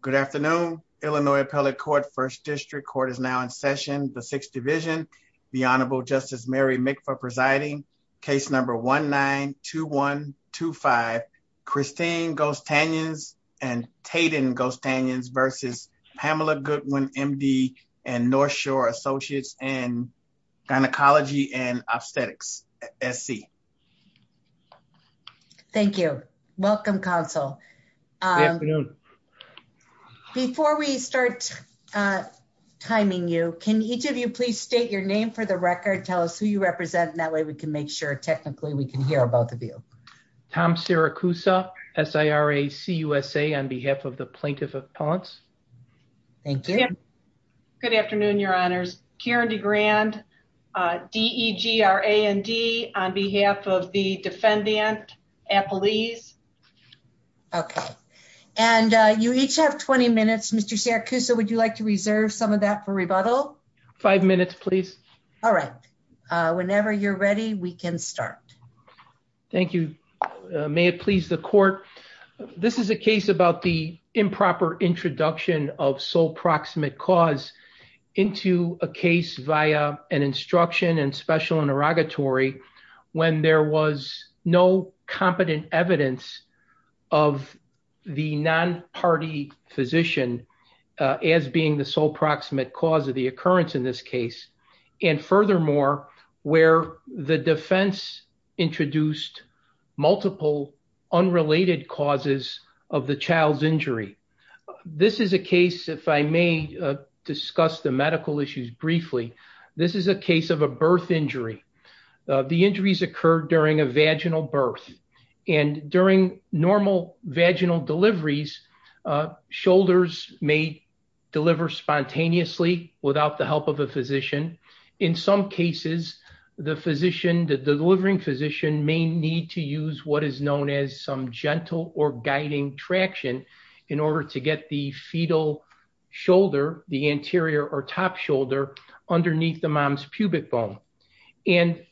Good afternoon, Illinois Appellate Court, 1st District. Court is now in session, the 6th Division, the Honorable Justice Mary Mikva presiding, case number 1-9-2-1-2-5, Christine Gostanyans and Tayden Gostanyans versus Pamela Goodwin, M.D., and North Shore Associates in Gynecology and Obstetrics, S.C. Thank you. Welcome, Counsel. Good afternoon. Before we start timing you, can each of you please state your name for the record, tell us who you represent, and that way we can make sure technically we can hear both of you. Tom Siracusa, S-I-R-A-C-U-S-A, on behalf of the Plaintiff Appellants. Thank you. Good afternoon, Your Honors. Karen DeGrand, D-E-G-R-A-N-D, on behalf of the Defendant Appellees. Okay. And you each have 20 minutes. Mr. Siracusa, would you like to reserve some of that for rebuttal? Five minutes, please. All right. Whenever you're ready, we can start. Thank you. May it please the Court. This is a case about the improper introduction of sole proximate cause into a case via an instruction and special interrogatory when there was no competent evidence of the non-party physician as being the sole proximate cause of the occurrence in this case. And furthermore, where the defense introduced multiple unrelated causes of the child's injury. This is a case, if I may discuss the medical issues briefly, this is a case of a birth injury. The injuries occurred during a vaginal birth. And during normal vaginal deliveries, shoulders may deliver spontaneously without the help of a physician. In some cases, the physician, the delivering physician may need to use what is known as some gentle or guiding traction in order to get the fetal shoulder, the anterior or top shoulder, underneath the mom's pubic bone. And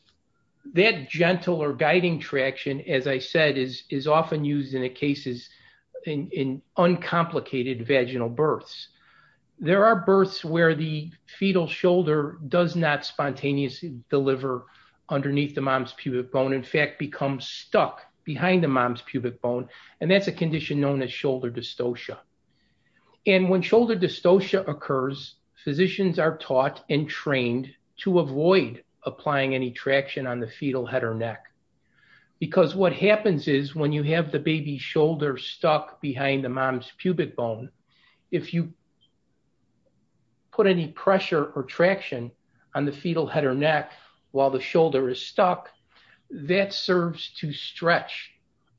that gentle or guiding traction, as I said, is often used in cases in uncomplicated vaginal births. There are births where the fetal shoulder does not spontaneously deliver underneath the mom's pubic bone in fact become stuck behind the mom's pubic bone. And that's a condition known as shoulder dystocia. And when shoulder dystocia occurs, physicians are taught and trained to avoid applying any traction on the fetal head or neck. Because what happens is when you have the baby shoulder stuck behind the mom's pubic bone. If you put any pressure or traction on the fetal head or neck, while the shoulder is stuck, that serves to stretch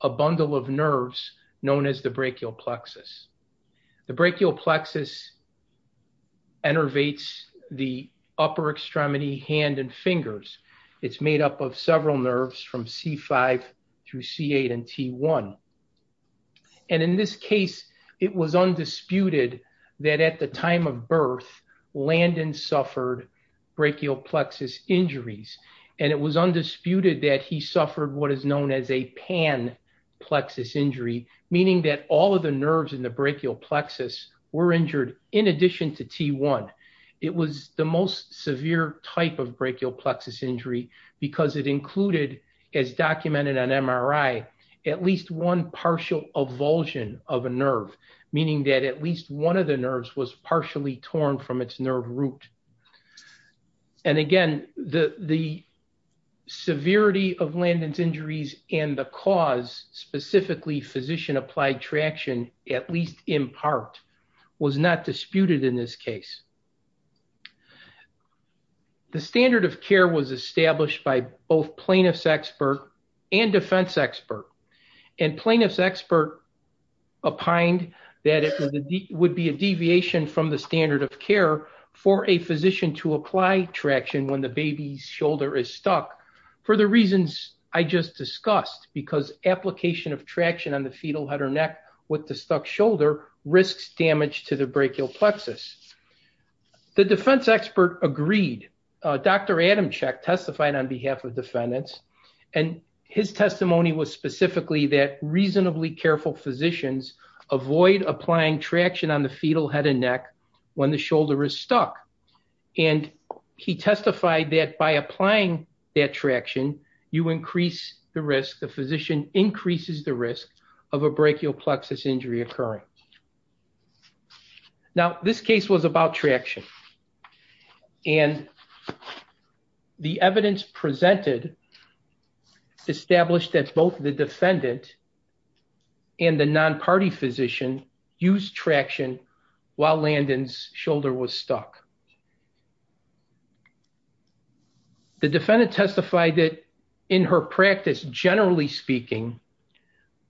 a bundle of nerves, known as the brachial plexus. The brachial plexus innervates the upper extremity hand and fingers. It's made up of several nerves from C5 through C8 and T1. And in this case, it was undisputed that at the time of birth, Landon suffered brachial plexus injuries, and it was undisputed that he suffered what is known as a pan plexus injury, meaning that all of the nerves in the brachial plexus were injured, in addition to T1. It was the most severe type of brachial plexus injury, because it included, as documented on MRI, at least one partial avulsion of a nerve, meaning that at least one of the nerves was partially torn from its nerve root. And again, the severity of Landon's injuries and the cause, specifically physician-applied traction, at least in part, was not disputed in this case. The standard of care was established by both plaintiff's expert and defense expert. And plaintiff's expert opined that it would be a deviation from the standard of care for a physician to apply traction when the baby's shoulder is stuck, for the reasons I just discussed, because application of traction on the fetal head or neck with the stuck shoulder risks damage to the brachial plexus. The defense expert agreed. Dr. Adamczyk testified on behalf of defendants, and his testimony was specifically that reasonably careful physicians avoid applying traction on the fetal head and neck when the shoulder is stuck. And he testified that by applying that traction, you increase the risk, the physician increases the risk of a brachial plexus injury occurring. Now, this case was about traction. And the evidence presented established that both the defendant and the non-party physician used traction while Landon's shoulder was stuck. The defendant testified that in her practice, generally speaking,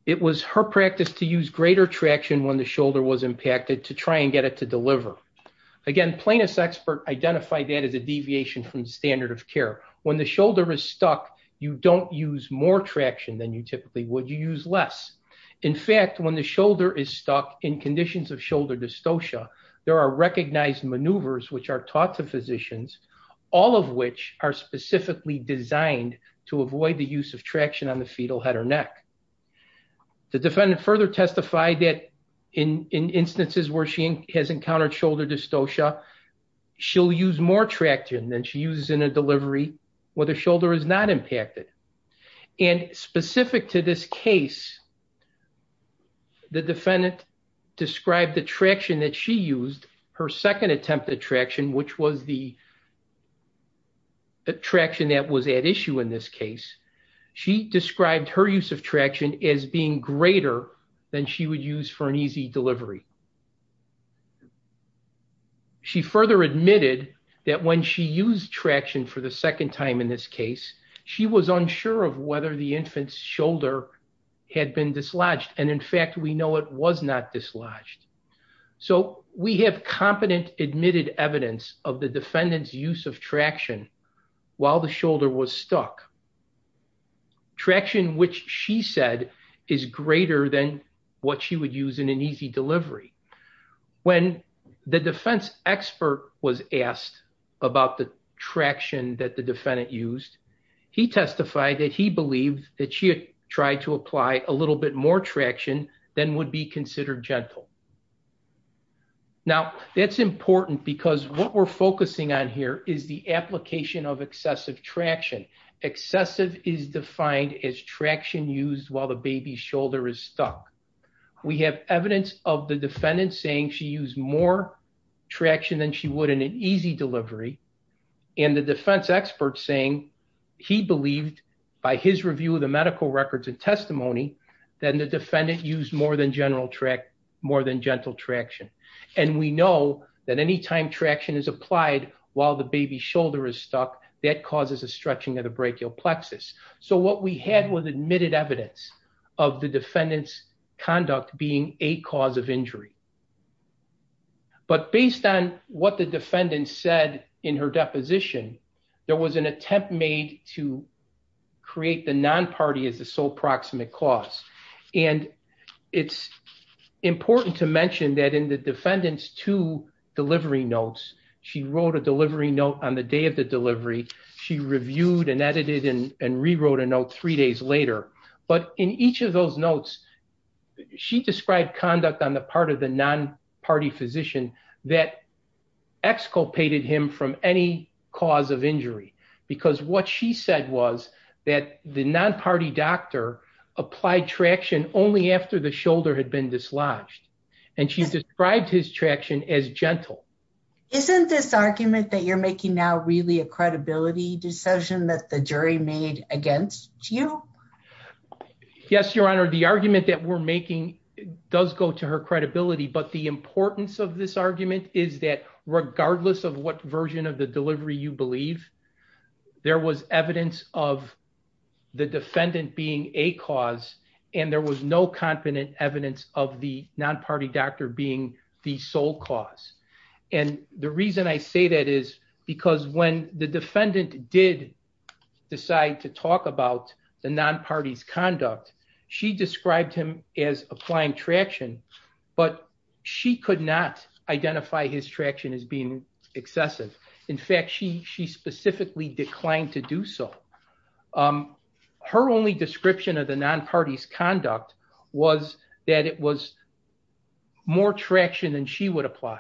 it was her practice to use greater traction when the shoulder was impacted to try and get it to deliver. Again, plaintiff's expert identified that as a deviation from the standard of care. When the shoulder is stuck, you don't use more traction than you typically would. You use less. In fact, when the shoulder is stuck in conditions of shoulder dystocia, there are recognized maneuvers which are taught to physicians, all of which are specifically designed to avoid the use of traction on the fetal head or neck. The defendant further testified that in instances where she has encountered shoulder dystocia, she'll use more traction than she uses in a delivery where the shoulder is not impacted. And specific to this case, the defendant described the traction that she used, her second attempt at traction, which was the traction that was at issue in this case, she described her use of traction as being greater than she would use for an easy delivery. She further admitted that when she used traction for the second time in this case, she was unsure of whether the infant's shoulder had been dislodged. And in fact, we know it was not dislodged. So we have competent admitted evidence of the defendant's use of traction while the shoulder was stuck. Traction which she said is greater than what she would use in an easy delivery. When the defense expert was asked about the traction that the defendant used, he testified that he believed that she had tried to apply a little bit more traction than would be considered gentle. Now, that's important because what we're focusing on here is the application of excessive traction. Excessive is defined as traction used while the baby's shoulder is stuck. We have evidence of the defendant saying she used more traction than she would in an easy delivery. And the defense expert saying he believed, by his review of the medical records and testimony, that the defendant used more than gentle traction. And we know that anytime traction is applied while the baby's shoulder is stuck, that causes a stretching of the brachial plexus. So what we had was admitted evidence of the defendant's conduct being a cause of injury. But based on what the defendant said in her deposition, there was an attempt made to create the non-party as the sole proximate cause. And it's important to mention that in the defendant's two delivery notes, she wrote a delivery note on the day of the delivery. She reviewed and edited and rewrote a note three days later. But in each of those notes, she described conduct on the part of the non-party physician that exculpated him from any cause of injury. Because what she said was that the non-party doctor applied traction only after the shoulder had been dislodged. And she described his traction as gentle. Isn't this argument that you're making now really a credibility decision that the jury made against you? Yes, Your Honor. The argument that we're making does go to her credibility. But the importance of this argument is that regardless of what version of the delivery you believe, there was evidence of the defendant being a cause. And there was no confident evidence of the non-party doctor being the sole cause. And the reason I say that is because when the defendant did decide to talk about the non-party's conduct, she described him as applying traction. She could not identify his traction as being excessive. In fact, she specifically declined to do so. Her only description of the non-party's conduct was that it was more traction than she would apply.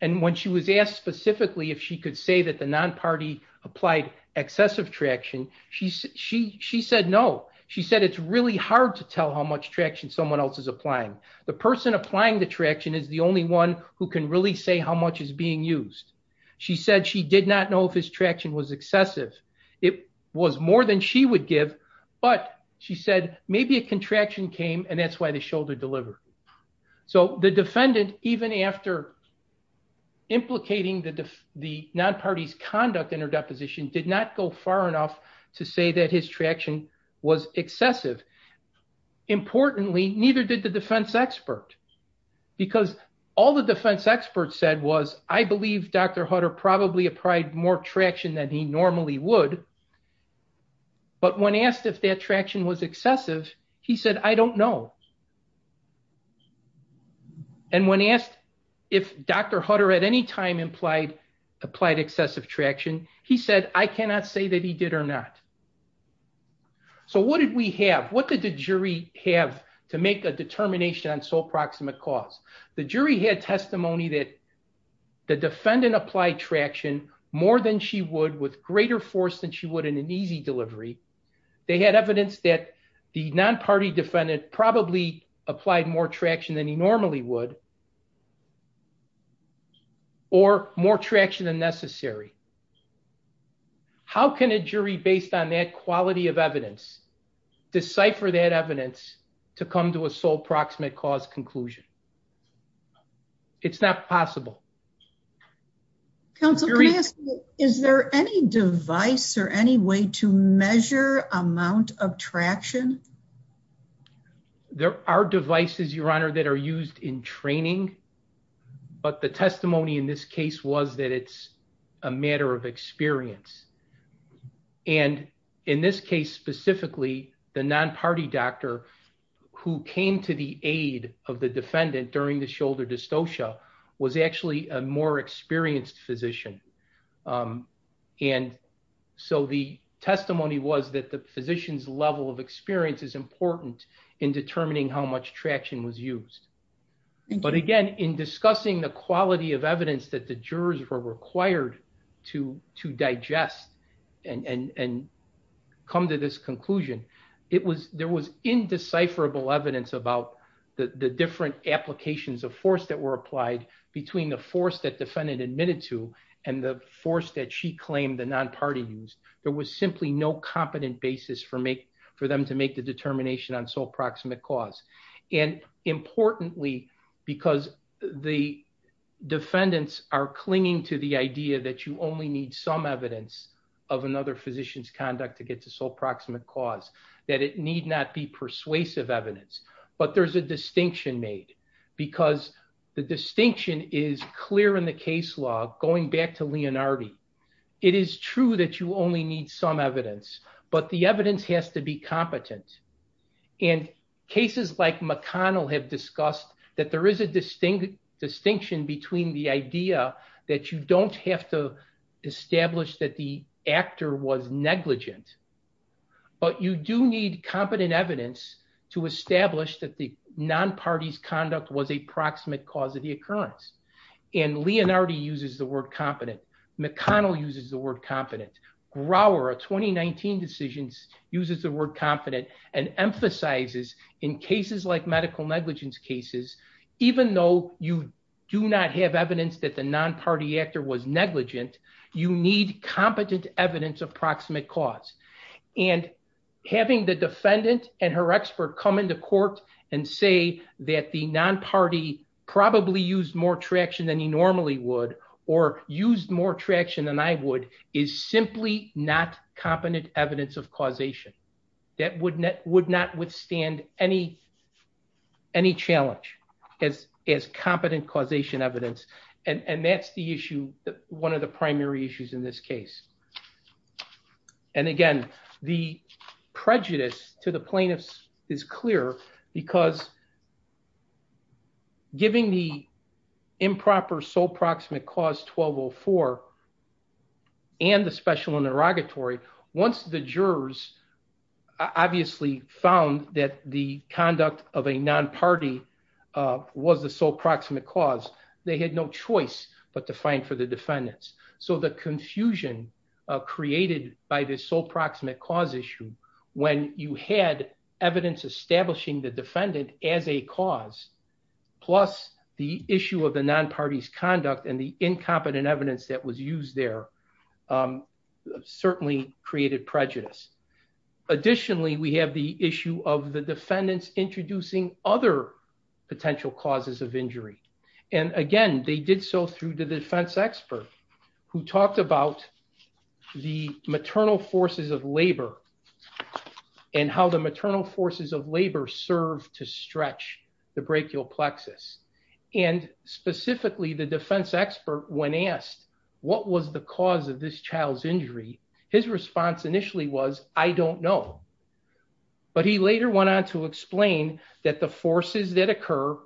And when she was asked specifically if she could say that the non-party applied excessive traction, she said no. She said it's really hard to tell how much traction someone else is applying. The person applying the traction is the only one who can really say how much is being used. She said she did not know if his traction was excessive. It was more than she would give, but she said maybe a contraction came and that's why the shoulder delivered. So the defendant, even after implicating the non-party's conduct in her deposition, did not go far enough to say that his traction was excessive. Importantly, neither did the defense expert. Because all the defense expert said was, I believe Dr. Hutter probably applied more traction than he normally would. But when asked if that traction was excessive, he said, I don't know. And when asked if Dr. Hutter at any time applied excessive traction, he said, I cannot say that he did or not. So what did we have? What did the jury have to make a determination on sole proximate cause? The jury had testimony that the defendant applied traction more than she would with greater force than she would in an easy delivery. They had evidence that the non-party defendant probably applied more traction than he normally would or more traction than necessary. How can a jury, based on that quality of evidence, decipher that evidence to come to a sole proximate cause conclusion? It's not possible. Counsel, is there any device or any way to measure amount of traction? There are devices, Your Honor, that are used in training. But the testimony in this case was that it's a matter of experience. And in this case specifically, the non-party doctor who came to the aid of the defendant during the shoulder dystocia was actually a more experienced physician. And so the testimony was that the physician's level of experience is important in determining how much traction was used. But again, in discussing the quality of evidence that the jurors were required to digest and come to this conclusion, there was indecipherable evidence about the different applications of force that were applied between the force that defendant admitted to and the force that she claimed the non-party used. There was simply no competent basis for them to make the determination on sole proximate cause. And importantly, because the defendants are clinging to the idea that you only need some evidence of another physician's conduct to get to sole proximate cause, that it need not be persuasive evidence. But there's a distinction made because the distinction is clear in the case law, going back to Leonardo. It is true that you only need some evidence, but the evidence has to be competent. And cases like McConnell have discussed that there is a distinction between the idea that you don't have to establish that the actor was negligent, but you do need competent evidence to establish that the non-party's conduct was a proximate cause of the occurrence. And Leonardo uses the word competent. McConnell uses the word competent. Grower, a 2019 decision, uses the word competent and emphasizes in cases like medical negligence cases, even though you do not have evidence that the non-party actor was negligent, you need competent evidence of proximate cause. And having the defendant and her expert come into court and say that the non-party probably used more traction than he normally would, or used more traction than I would, is simply not competent evidence of causation. That would not withstand any challenge as competent causation evidence. And that's the issue, one of the primary issues in this case. And again, the prejudice to the plaintiffs is clear because giving the improper sole proximate cause 1204 and the special interrogatory, once the jurors obviously found that the conduct of a non-party was the sole proximate cause, they had no choice but to find for the defendants. So the confusion created by this sole proximate cause issue, when you had evidence establishing the defendant as a cause, plus the issue of the non-party's conduct and the incompetent evidence that was used there, certainly created prejudice. Additionally, we have the issue of the defendants introducing other potential causes of injury. And again, they did so through the defense expert who talked about the maternal forces of labor and how the maternal forces of labor serve to stretch the brachial plexus. And specifically, the defense expert, when asked what was the cause of this child's injury, his response initially was, I don't know. But he later went on to explain that the forces that occur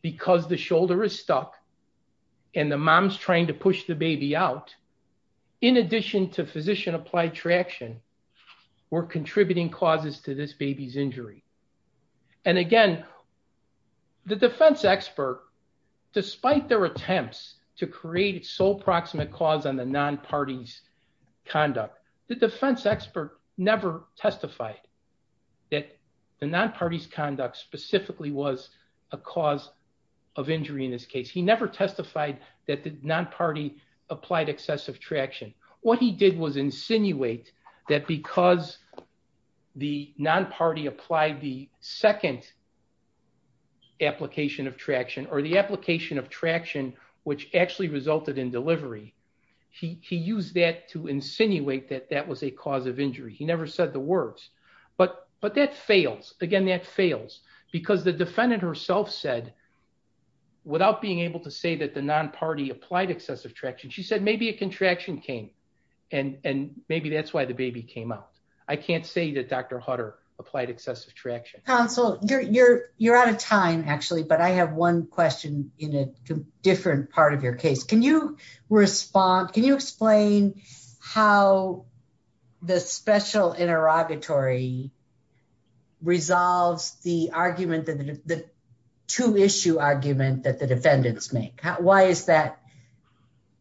because the shoulder is stuck and the mom's trying to push the baby out, in addition to physician applied traction, were contributing causes to this baby's injury. And again, the defense expert, despite their attempts to create a sole proximate cause on the non-party's conduct, the defense expert never testified that the non-party's conduct specifically was a cause of injury in this case. He never testified that the non-party applied excessive traction. What he did was insinuate that because the non-party applied the second application of traction, or the application of traction which actually resulted in delivery, he used that to insinuate that that was a cause of injury. He never said the words. But that fails. Again, that fails. Because the defendant herself said, without being able to say that the non-party applied excessive traction, she said maybe a contraction came. And maybe that's why the baby came out. I can't say that Dr. Hutter applied excessive traction. Counsel, you're out of time actually, but I have one question in a different part of your case. Can you explain how the special interrogatory resolves the argument, the two-issue argument that the defendants make? Why is that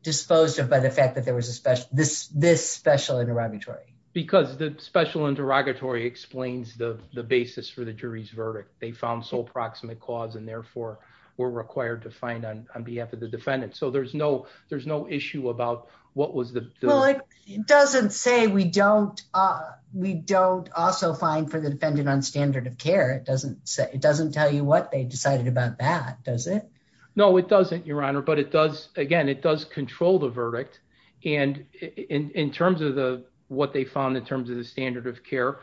disposed of by the fact that there was this special interrogatory? Because the special interrogatory explains the basis for the jury's verdict. They found sole proximate cause and therefore were required to find on behalf of the defendant. So there's no issue about what was the… Well, it doesn't say we don't also find for the defendant on standard of care. It doesn't tell you what they decided about that, does it? No, it doesn't, Your Honor. But it does, again, it does control the verdict. And in terms of what they found in terms of the standard of care,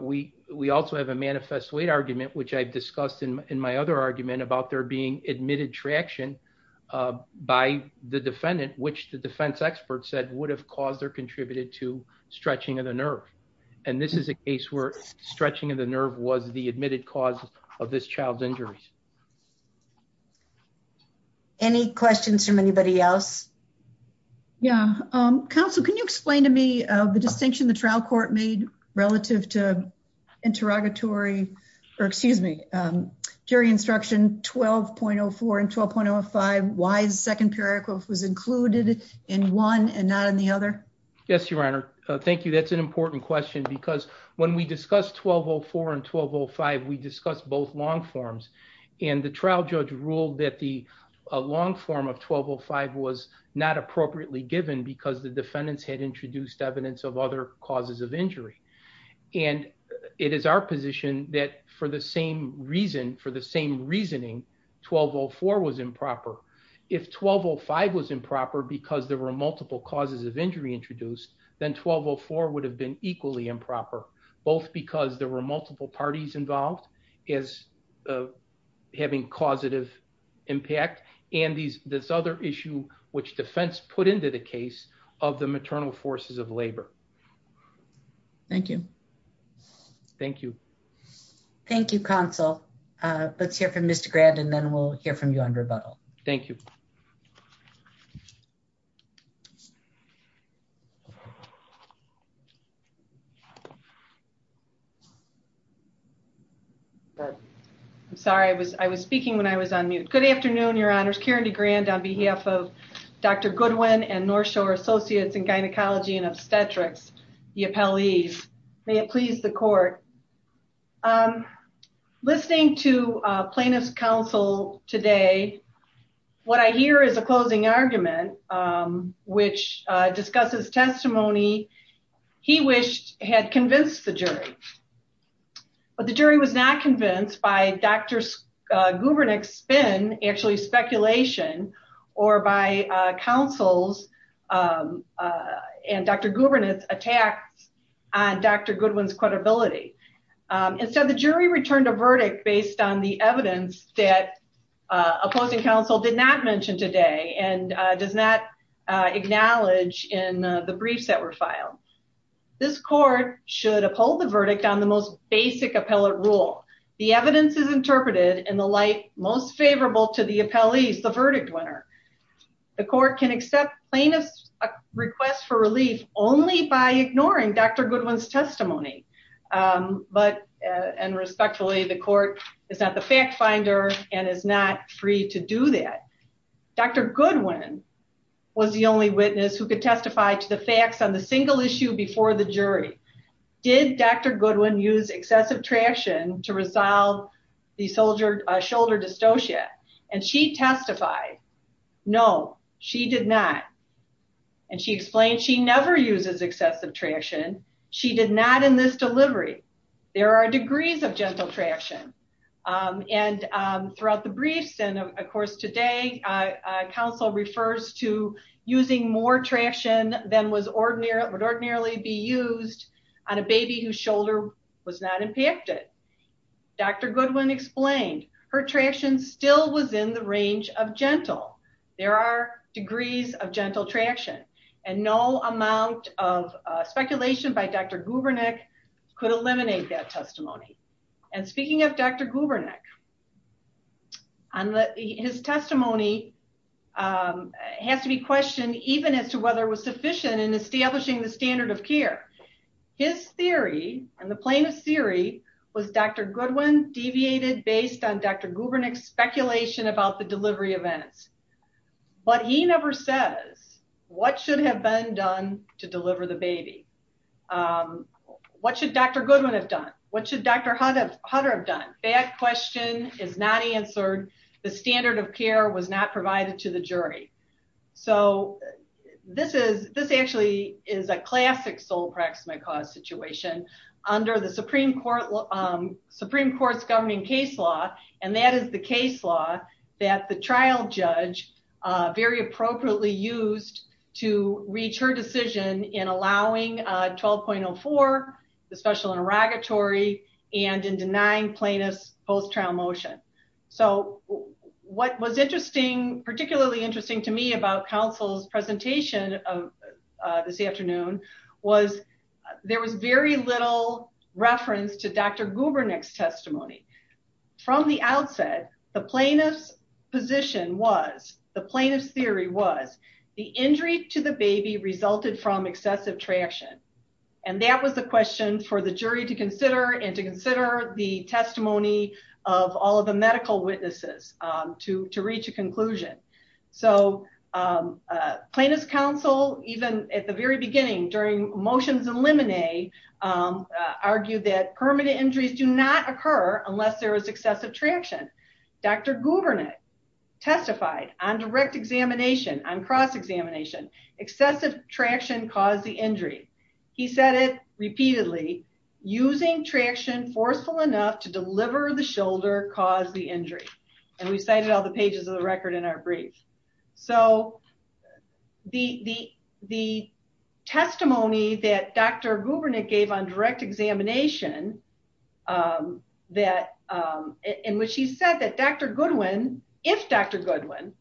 we also have a manifest weight argument, which I've discussed in my other argument about there being admitted traction by the defendant, which the defense expert said would have caused or contributed to stretching of the nerve. And this is a case where stretching of the nerve was the admitted cause of this child's injuries. Any questions from anybody else? Yeah. Counsel, can you explain to me the distinction the trial court made relative to interrogatory, or excuse me, jury instruction 12.04 and 12.05, why the second period was included in one and not in the other? Yes, Your Honor. Thank you. That's an important question because when we discussed 12.04 and 12.05, we discussed both long forms. And the trial judge ruled that the long form of 12.05 was not appropriately given because the defendants had introduced evidence of other causes of injury. And it is our position that for the same reason, for the same reasoning, 12.04 was improper. If 12.05 was improper because there were multiple causes of injury introduced, then 12.04 would have been equally improper, both because there were multiple parties involved as having causative impact. And this other issue, which defense put into the case of the maternal forces of labor. Thank you. Thank you. Thank you, Counsel. Let's hear from Mr. Grand and then we'll hear from you on rebuttal. Thank you. I'm sorry, I was speaking when I was on mute. Good afternoon, Your Honors. Karen DeGrand on behalf of Dr. Goodwin and North Shore Associates in Gynecology and Obstetrics, the appellees. May it please the court. Listening to plaintiff's counsel today, what I hear is a closing argument, which discusses testimony he wished had convinced the jury. But the jury was not convinced by Dr. Gubernick's spin, actually speculation, or by counsel's and Dr. Gubernick's attacks on Dr. Goodwin's credibility. Instead, the jury returned a verdict based on the evidence that opposing counsel did not mention today and does not acknowledge in the briefs that were filed. This court should uphold the verdict on the most basic appellate rule. The evidence is interpreted in the light most favorable to the appellees, the verdict winner. The court can accept plaintiff's request for relief only by ignoring Dr. Goodwin's testimony. But, and respectfully, the court is not the fact finder and is not free to do that. Dr. Goodwin was the only witness who could testify to the facts on the single issue before the jury. Did Dr. Goodwin use excessive traction to resolve the shoulder dystocia? And she testified, no, she did not. And she explained she never uses excessive traction. She did not in this delivery. There are degrees of gentle traction. And throughout the briefs and of course today, counsel refers to using more traction than would ordinarily be used on a baby whose shoulder was not impacted. Dr. Goodwin explained her traction still was in the range of gentle. There are degrees of gentle traction and no amount of speculation by Dr. Gubernick could eliminate that testimony. And speaking of Dr. Gubernick, his testimony has to be questioned even as to whether it was sufficient in establishing the standard of care. His theory and the plaintiff's theory was Dr. Goodwin deviated based on Dr. Gubernick's speculation about the delivery events. But he never says what should have been done to deliver the baby. What should Dr. Goodwin have done? What should Dr. Hutter have done? That question is not answered. The standard of care was not provided to the jury. So this actually is a classic sole praximate cause situation under the Supreme Court's governing case law. And that is the case law that the trial judge very appropriately used to reach her decision in allowing 12.04, the special interrogatory, and in denying plaintiff's post-trial motion. So what was particularly interesting to me about counsel's presentation this afternoon was there was very little reference to Dr. Gubernick's testimony. From the outset, the plaintiff's position was, the plaintiff's theory was, the injury to the baby resulted from excessive traction. And that was the question for the jury to consider and to consider the testimony of all of the medical witnesses to reach a conclusion. So plaintiff's counsel, even at the very beginning during motions in limine, argued that permanent injuries do not occur unless there is excessive traction. Dr. Gubernick testified on direct examination, on cross-examination, excessive traction caused the injury. He said it repeatedly, using traction forceful enough to deliver the shoulder caused the injury. And we cited all the pages of the record in our brief. So the testimony that Dr. Gubernick gave on direct examination, in which he said that Dr. Goodwin, if Dr. Goodwin,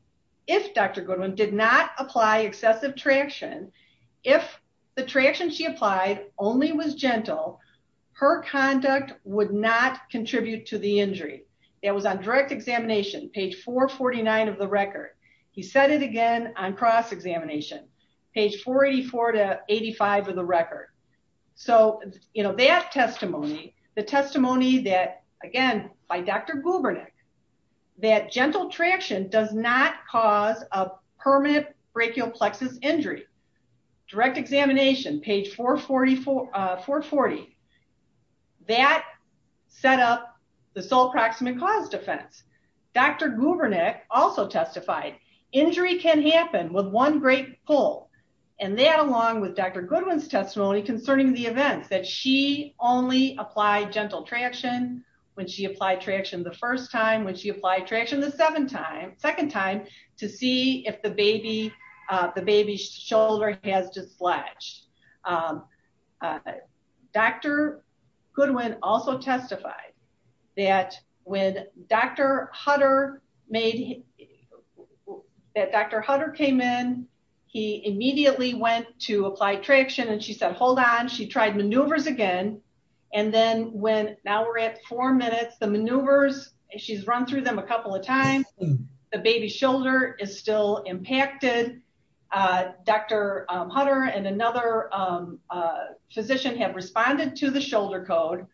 if Dr. Goodwin did not apply excessive traction, if the traction she applied only was gentle, her conduct would not contribute to the injury. It was on direct examination, page 449 of the record. He said it again on cross-examination, page 484 to 85 of the record. So, you know, that testimony, the testimony that, again, by Dr. Gubernick, that gentle traction does not cause a permanent brachial plexus injury. Direct examination, page 440. That set up the sole proximate cause defense. Dr. Gubernick also testified injury can happen with one great pull. And that along with Dr. Goodwin's testimony concerning the events, that she only applied gentle traction when she applied traction the first time, when she applied traction the second time to see if the baby's shoulder has dislodged. Dr. Goodwin also testified that when Dr. Hutter made, that Dr. Hutter came in, he immediately went to apply traction and she said, hold on, she tried maneuvers again. And then when, now we're at four minutes, the maneuvers, she's run through them a couple of times, the baby's shoulder is still impacted. Dr. Hutter and another physician have responded to the shoulder code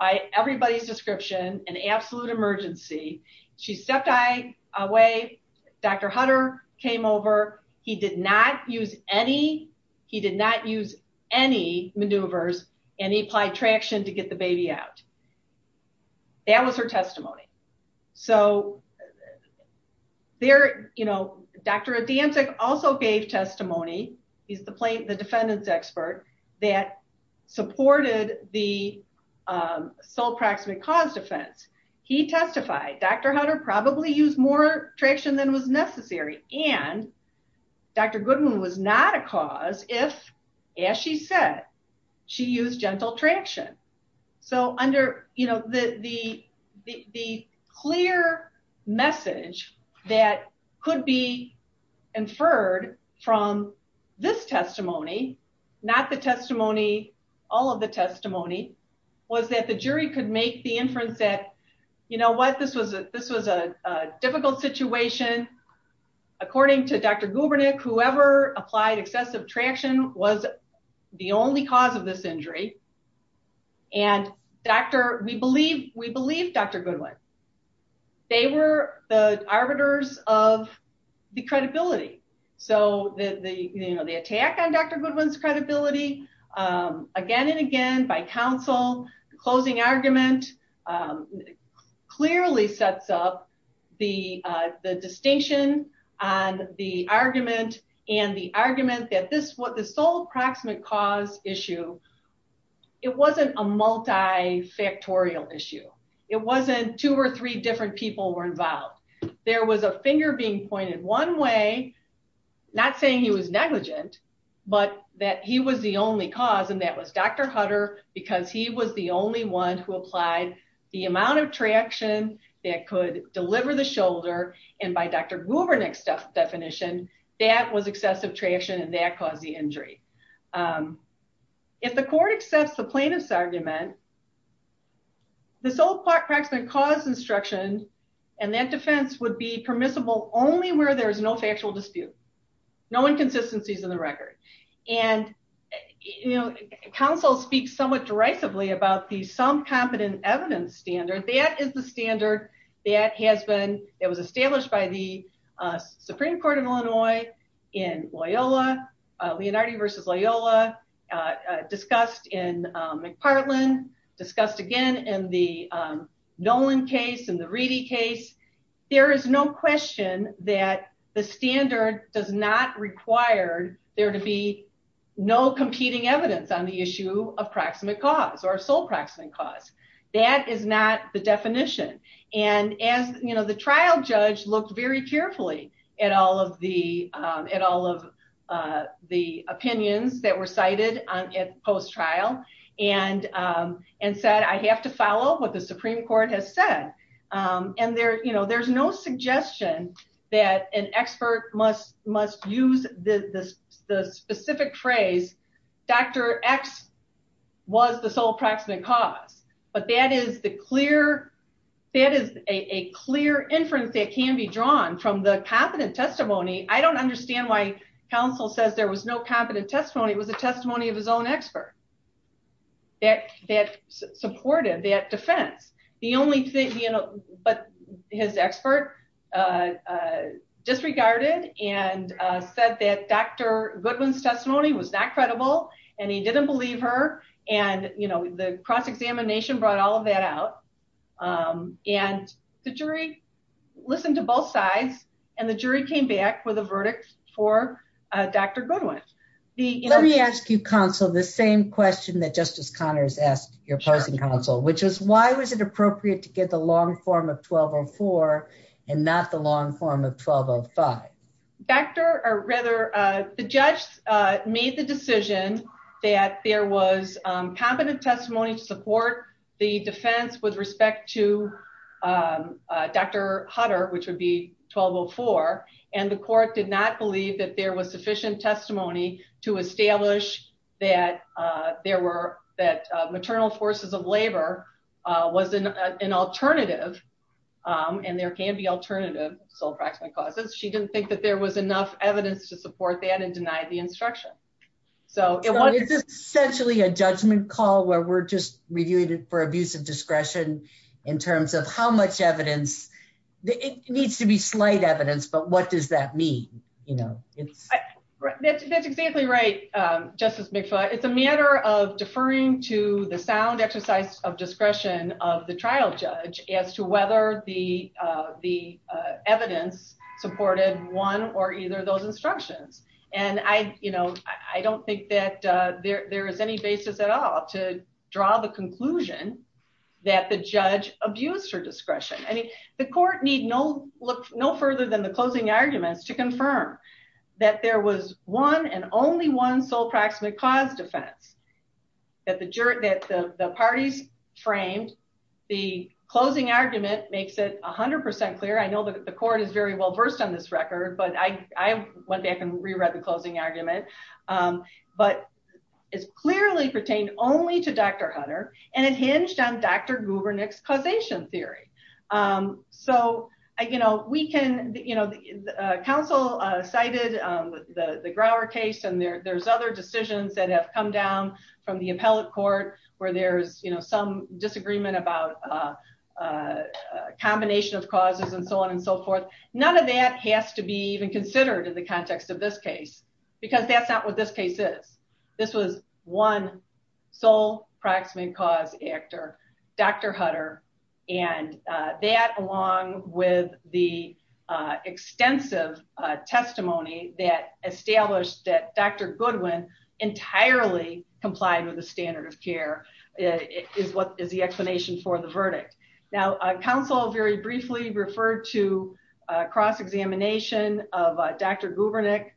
by everybody's description, an absolute emergency. She stepped away. Dr. Hutter came over. He did not use any, he did not use any maneuvers and he applied traction to get the baby out. That was her testimony. So there, you know, Dr. Adiantic also gave testimony. He's the defendant's expert that supported the sole proximate cause defense. He testified, Dr. Hutter probably used more traction than was necessary. And Dr. Goodwin was not a cause if, as she said, she used gentle traction. So under, you know, the, the, the clear message that could be inferred from this testimony, not the testimony, all of the testimony was that the jury could make the inference that, you know what, this was a, this was a difficult situation. According to Dr. Gubernick, whoever applied excessive traction was the only cause of this injury. And Dr., we believe, we believe Dr. Goodwin. They were the arbiters of the credibility. So the, the, you know, the attack on Dr. Goodwin's credibility again and again by counsel, the closing argument clearly sets up the, the distinction on the argument and the argument that this, what the sole proximate cause issue, it wasn't a multifactorial issue. It wasn't two or three different people were involved. There was a finger being pointed one way, not saying he was negligent, but that he was the only cause. And that was Dr. Hutter, because he was the only one who applied the amount of traction that could deliver the shoulder. And by Dr. Gubernick's definition, that was excessive traction and that caused the injury. If the court accepts the plaintiff's argument, the sole proximate cause instruction and that defense would be permissible only where there is no factual dispute, no inconsistencies in the record. And, you know, counsel speaks somewhat derisively about the some competent evidence standard. That is the standard that has been, that was established by the Supreme Court of Illinois in Loyola, Leonardo versus Loyola, discussed in McPartland, discussed again in the Nolan case and the Reedy case. There is no question that the standard does not require there to be no competing evidence on the issue of proximate cause or sole proximate cause. That is not the definition. And as, you know, the trial judge looked very carefully at all of the opinions that were cited at post-trial and said, I have to follow what the Supreme Court has said. And there, you know, there's no suggestion that an expert must use the specific phrase, Dr. X was the sole proximate cause. But that is the clear, that is a clear inference that can be drawn from the competent testimony. I don't understand why counsel says there was no competent testimony. It was a testimony of his own expert that supported that defense. The only thing, you know, but his expert disregarded and said that Dr. Goodwin's testimony was not credible and he didn't believe her. And, you know, the cross-examination brought all of that out. And the jury listened to both sides and the jury came back with a verdict for Dr. Goodwin. Let me ask you, counsel, the same question that Justice Connors asked your opposing counsel, which is why was it appropriate to get the long form of 1204 and not the long form of 1205? The judge made the decision that there was competent testimony to support the defense with respect to Dr. Hutter, which would be 1204. And the court did not believe that there was sufficient testimony to establish that maternal forces of labor was an alternative. And there can be alternative sole proximate causes. But there was enough evidence to support that and denied the instruction. So it was essentially a judgment call where we're just reviewing it for abuse of discretion in terms of how much evidence. It needs to be slight evidence. But what does that mean? That's exactly right, Justice McFaul. It's a matter of deferring to the sound exercise of discretion of the trial judge as to whether the evidence supported one or either of those instructions. And I don't think that there is any basis at all to draw the conclusion that the judge abused her discretion. I mean, the court need no look no further than the closing arguments to confirm that there was one and only one sole proximate cause defense that the parties framed. The closing argument makes it 100% clear. I know that the court is very well versed on this record, but I went back and reread the closing argument. But it's clearly pertained only to Dr. Hutter and it hinged on Dr. Gubernick's causation theory. So, you know, we can, you know, the council cited the Grower case and there's other decisions that have come down from the appellate court where there's, you know, some disagreement about a combination of causes and so on and so forth. None of that has to be even considered in the context of this case, because that's not what this case is. This was one sole proximate cause actor, Dr. Hutter, and that along with the extensive testimony that established that Dr. Goodwin entirely complied with the standard of care is what is the explanation for the verdict. Now, council very briefly referred to cross examination of Dr. Gubernick.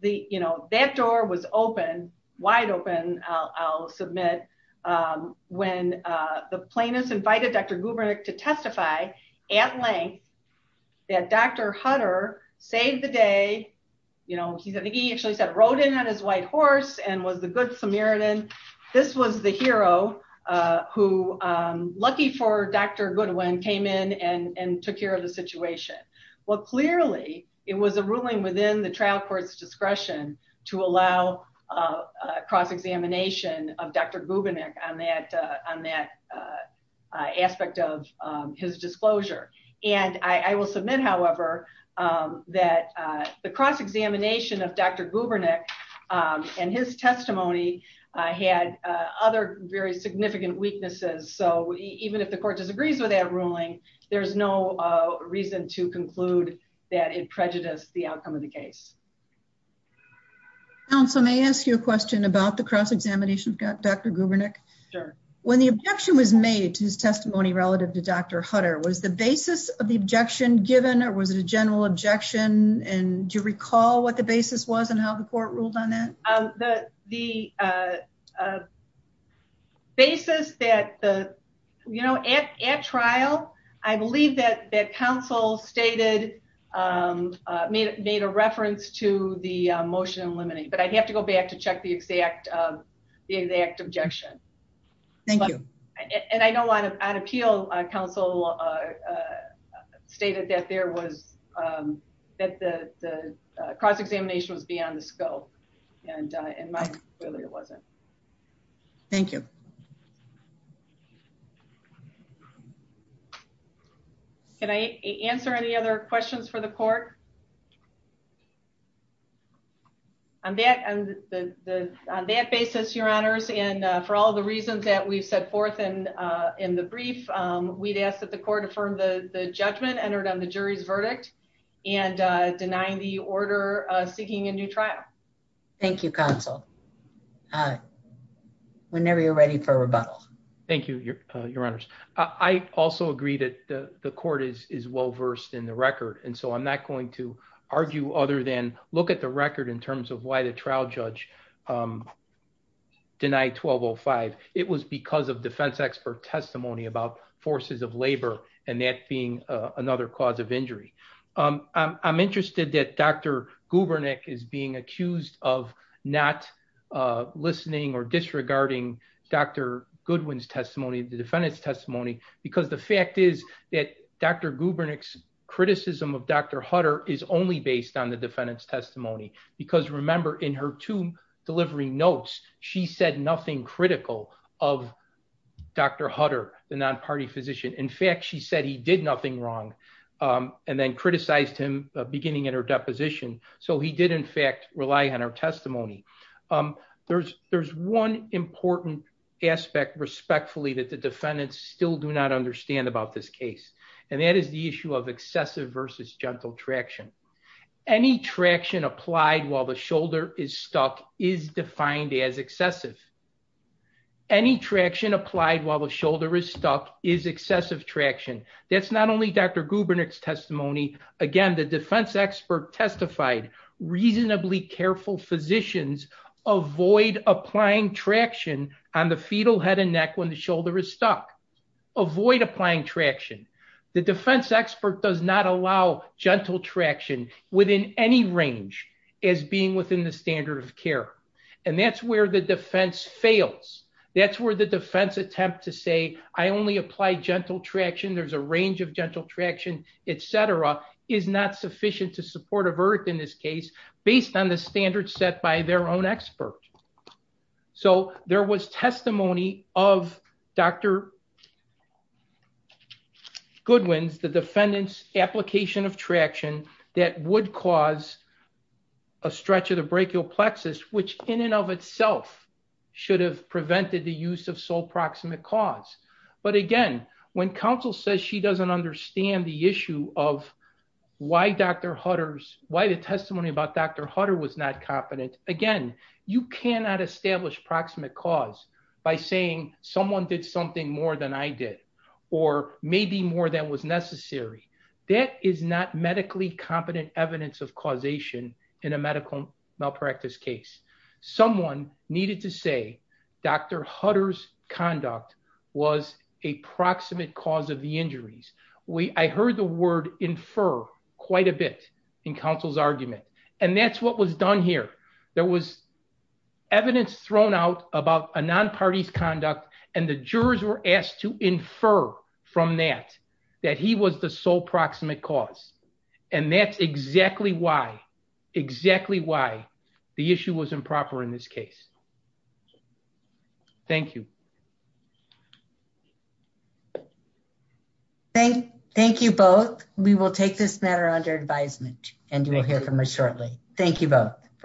The, you know, that door was open wide open, I'll submit. When the plaintiffs invited Dr. Gubernick to testify at length that Dr. Hutter saved the day, you know, he actually said rode in on his white horse and was the good Samaritan. This was the hero who lucky for Dr. Goodwin came in and took care of the situation. Well, clearly, it was a ruling within the trial court's discretion to allow cross examination of Dr. Gubernick on that on that aspect of his disclosure. And I will submit, however, that the cross examination of Dr. Gubernick and his testimony had other very significant weaknesses. So even if the court disagrees with that ruling, there's no reason to conclude that it prejudiced the outcome of the case. So may I ask you a question about the cross examination of Dr. Gubernick? When the objection was made to his testimony relative to Dr. Hutter, was the basis of the objection given or was it a general objection? And do you recall what the basis was and how the court ruled on that? The basis that the, you know, at trial, I believe that counsel stated, made a reference to the motion eliminating, but I'd have to go back to check the exact objection. Thank you. And I know on appeal, counsel stated that there was, that the cross examination was beyond the scope and mine clearly wasn't. Thank you. Can I answer any other questions for the court? On that basis, your honors, and for all the reasons that we've set forth in the brief, we'd ask that the court affirm the judgment entered on the jury's verdict and denying the order seeking a new trial. Thank you, counsel. Whenever you're ready for rebuttal. Thank you, your honors. I also agree that the court is well-versed in the record. And so I'm not going to argue other than look at the record in terms of why the trial judge denied 1205. It was because of defense expert testimony about forces of labor and that being another cause of injury. I'm interested that Dr. Gubernick is being accused of not listening or disregarding Dr. Goodwin's testimony, the defendant's testimony, because the fact is that Dr. Hunter, the non-party physician, in fact, she said he did nothing wrong and then criticized him beginning at her deposition. So he did, in fact, rely on her testimony. There's one important aspect, respectfully, that the defendants still do not understand about this case. And that is the issue of excessive versus gentle traction. Any traction applied while the shoulder is stuck is defined as excessive. Any traction applied while the shoulder is stuck is excessive traction. That's not only Dr. Gubernick's testimony. Again, the defense expert testified reasonably careful physicians avoid applying traction on the fetal head and neck when the shoulder is stuck. Avoid applying traction. The defense expert does not allow gentle traction within any range as being within the standard of care. And that's where the defense fails. That's where the defense attempt to say, I only apply gentle traction, there's a range of gentle traction, etc., is not sufficient to support a birth in this case, based on the standard set by their own expert. So there was testimony of Dr. Goodwin's, the defendant's, application of traction that would cause a stretch of the brachial plexus, which in and of itself should have prevented the use of sole proximate cause. But again, when counsel says she doesn't understand the issue of why Dr. Hutter's, why the testimony about Dr. Hutter was not competent, again, you cannot establish proximate cause by saying someone did something more than I did, or maybe more than was necessary. That is not medically competent evidence of causation in a medical malpractice case. Someone needed to say Dr. Hutter's conduct was a proximate cause of the injuries. I heard the word infer quite a bit in counsel's argument. And that's what was done here. There was evidence thrown out about a non-parties conduct, and the jurors were asked to infer from that, that he was the sole proximate cause. And that's exactly why, exactly why the issue was improper in this case. Thank you. Thank you both. We will take this matter under advisement, and you will hear from us shortly. Thank you both.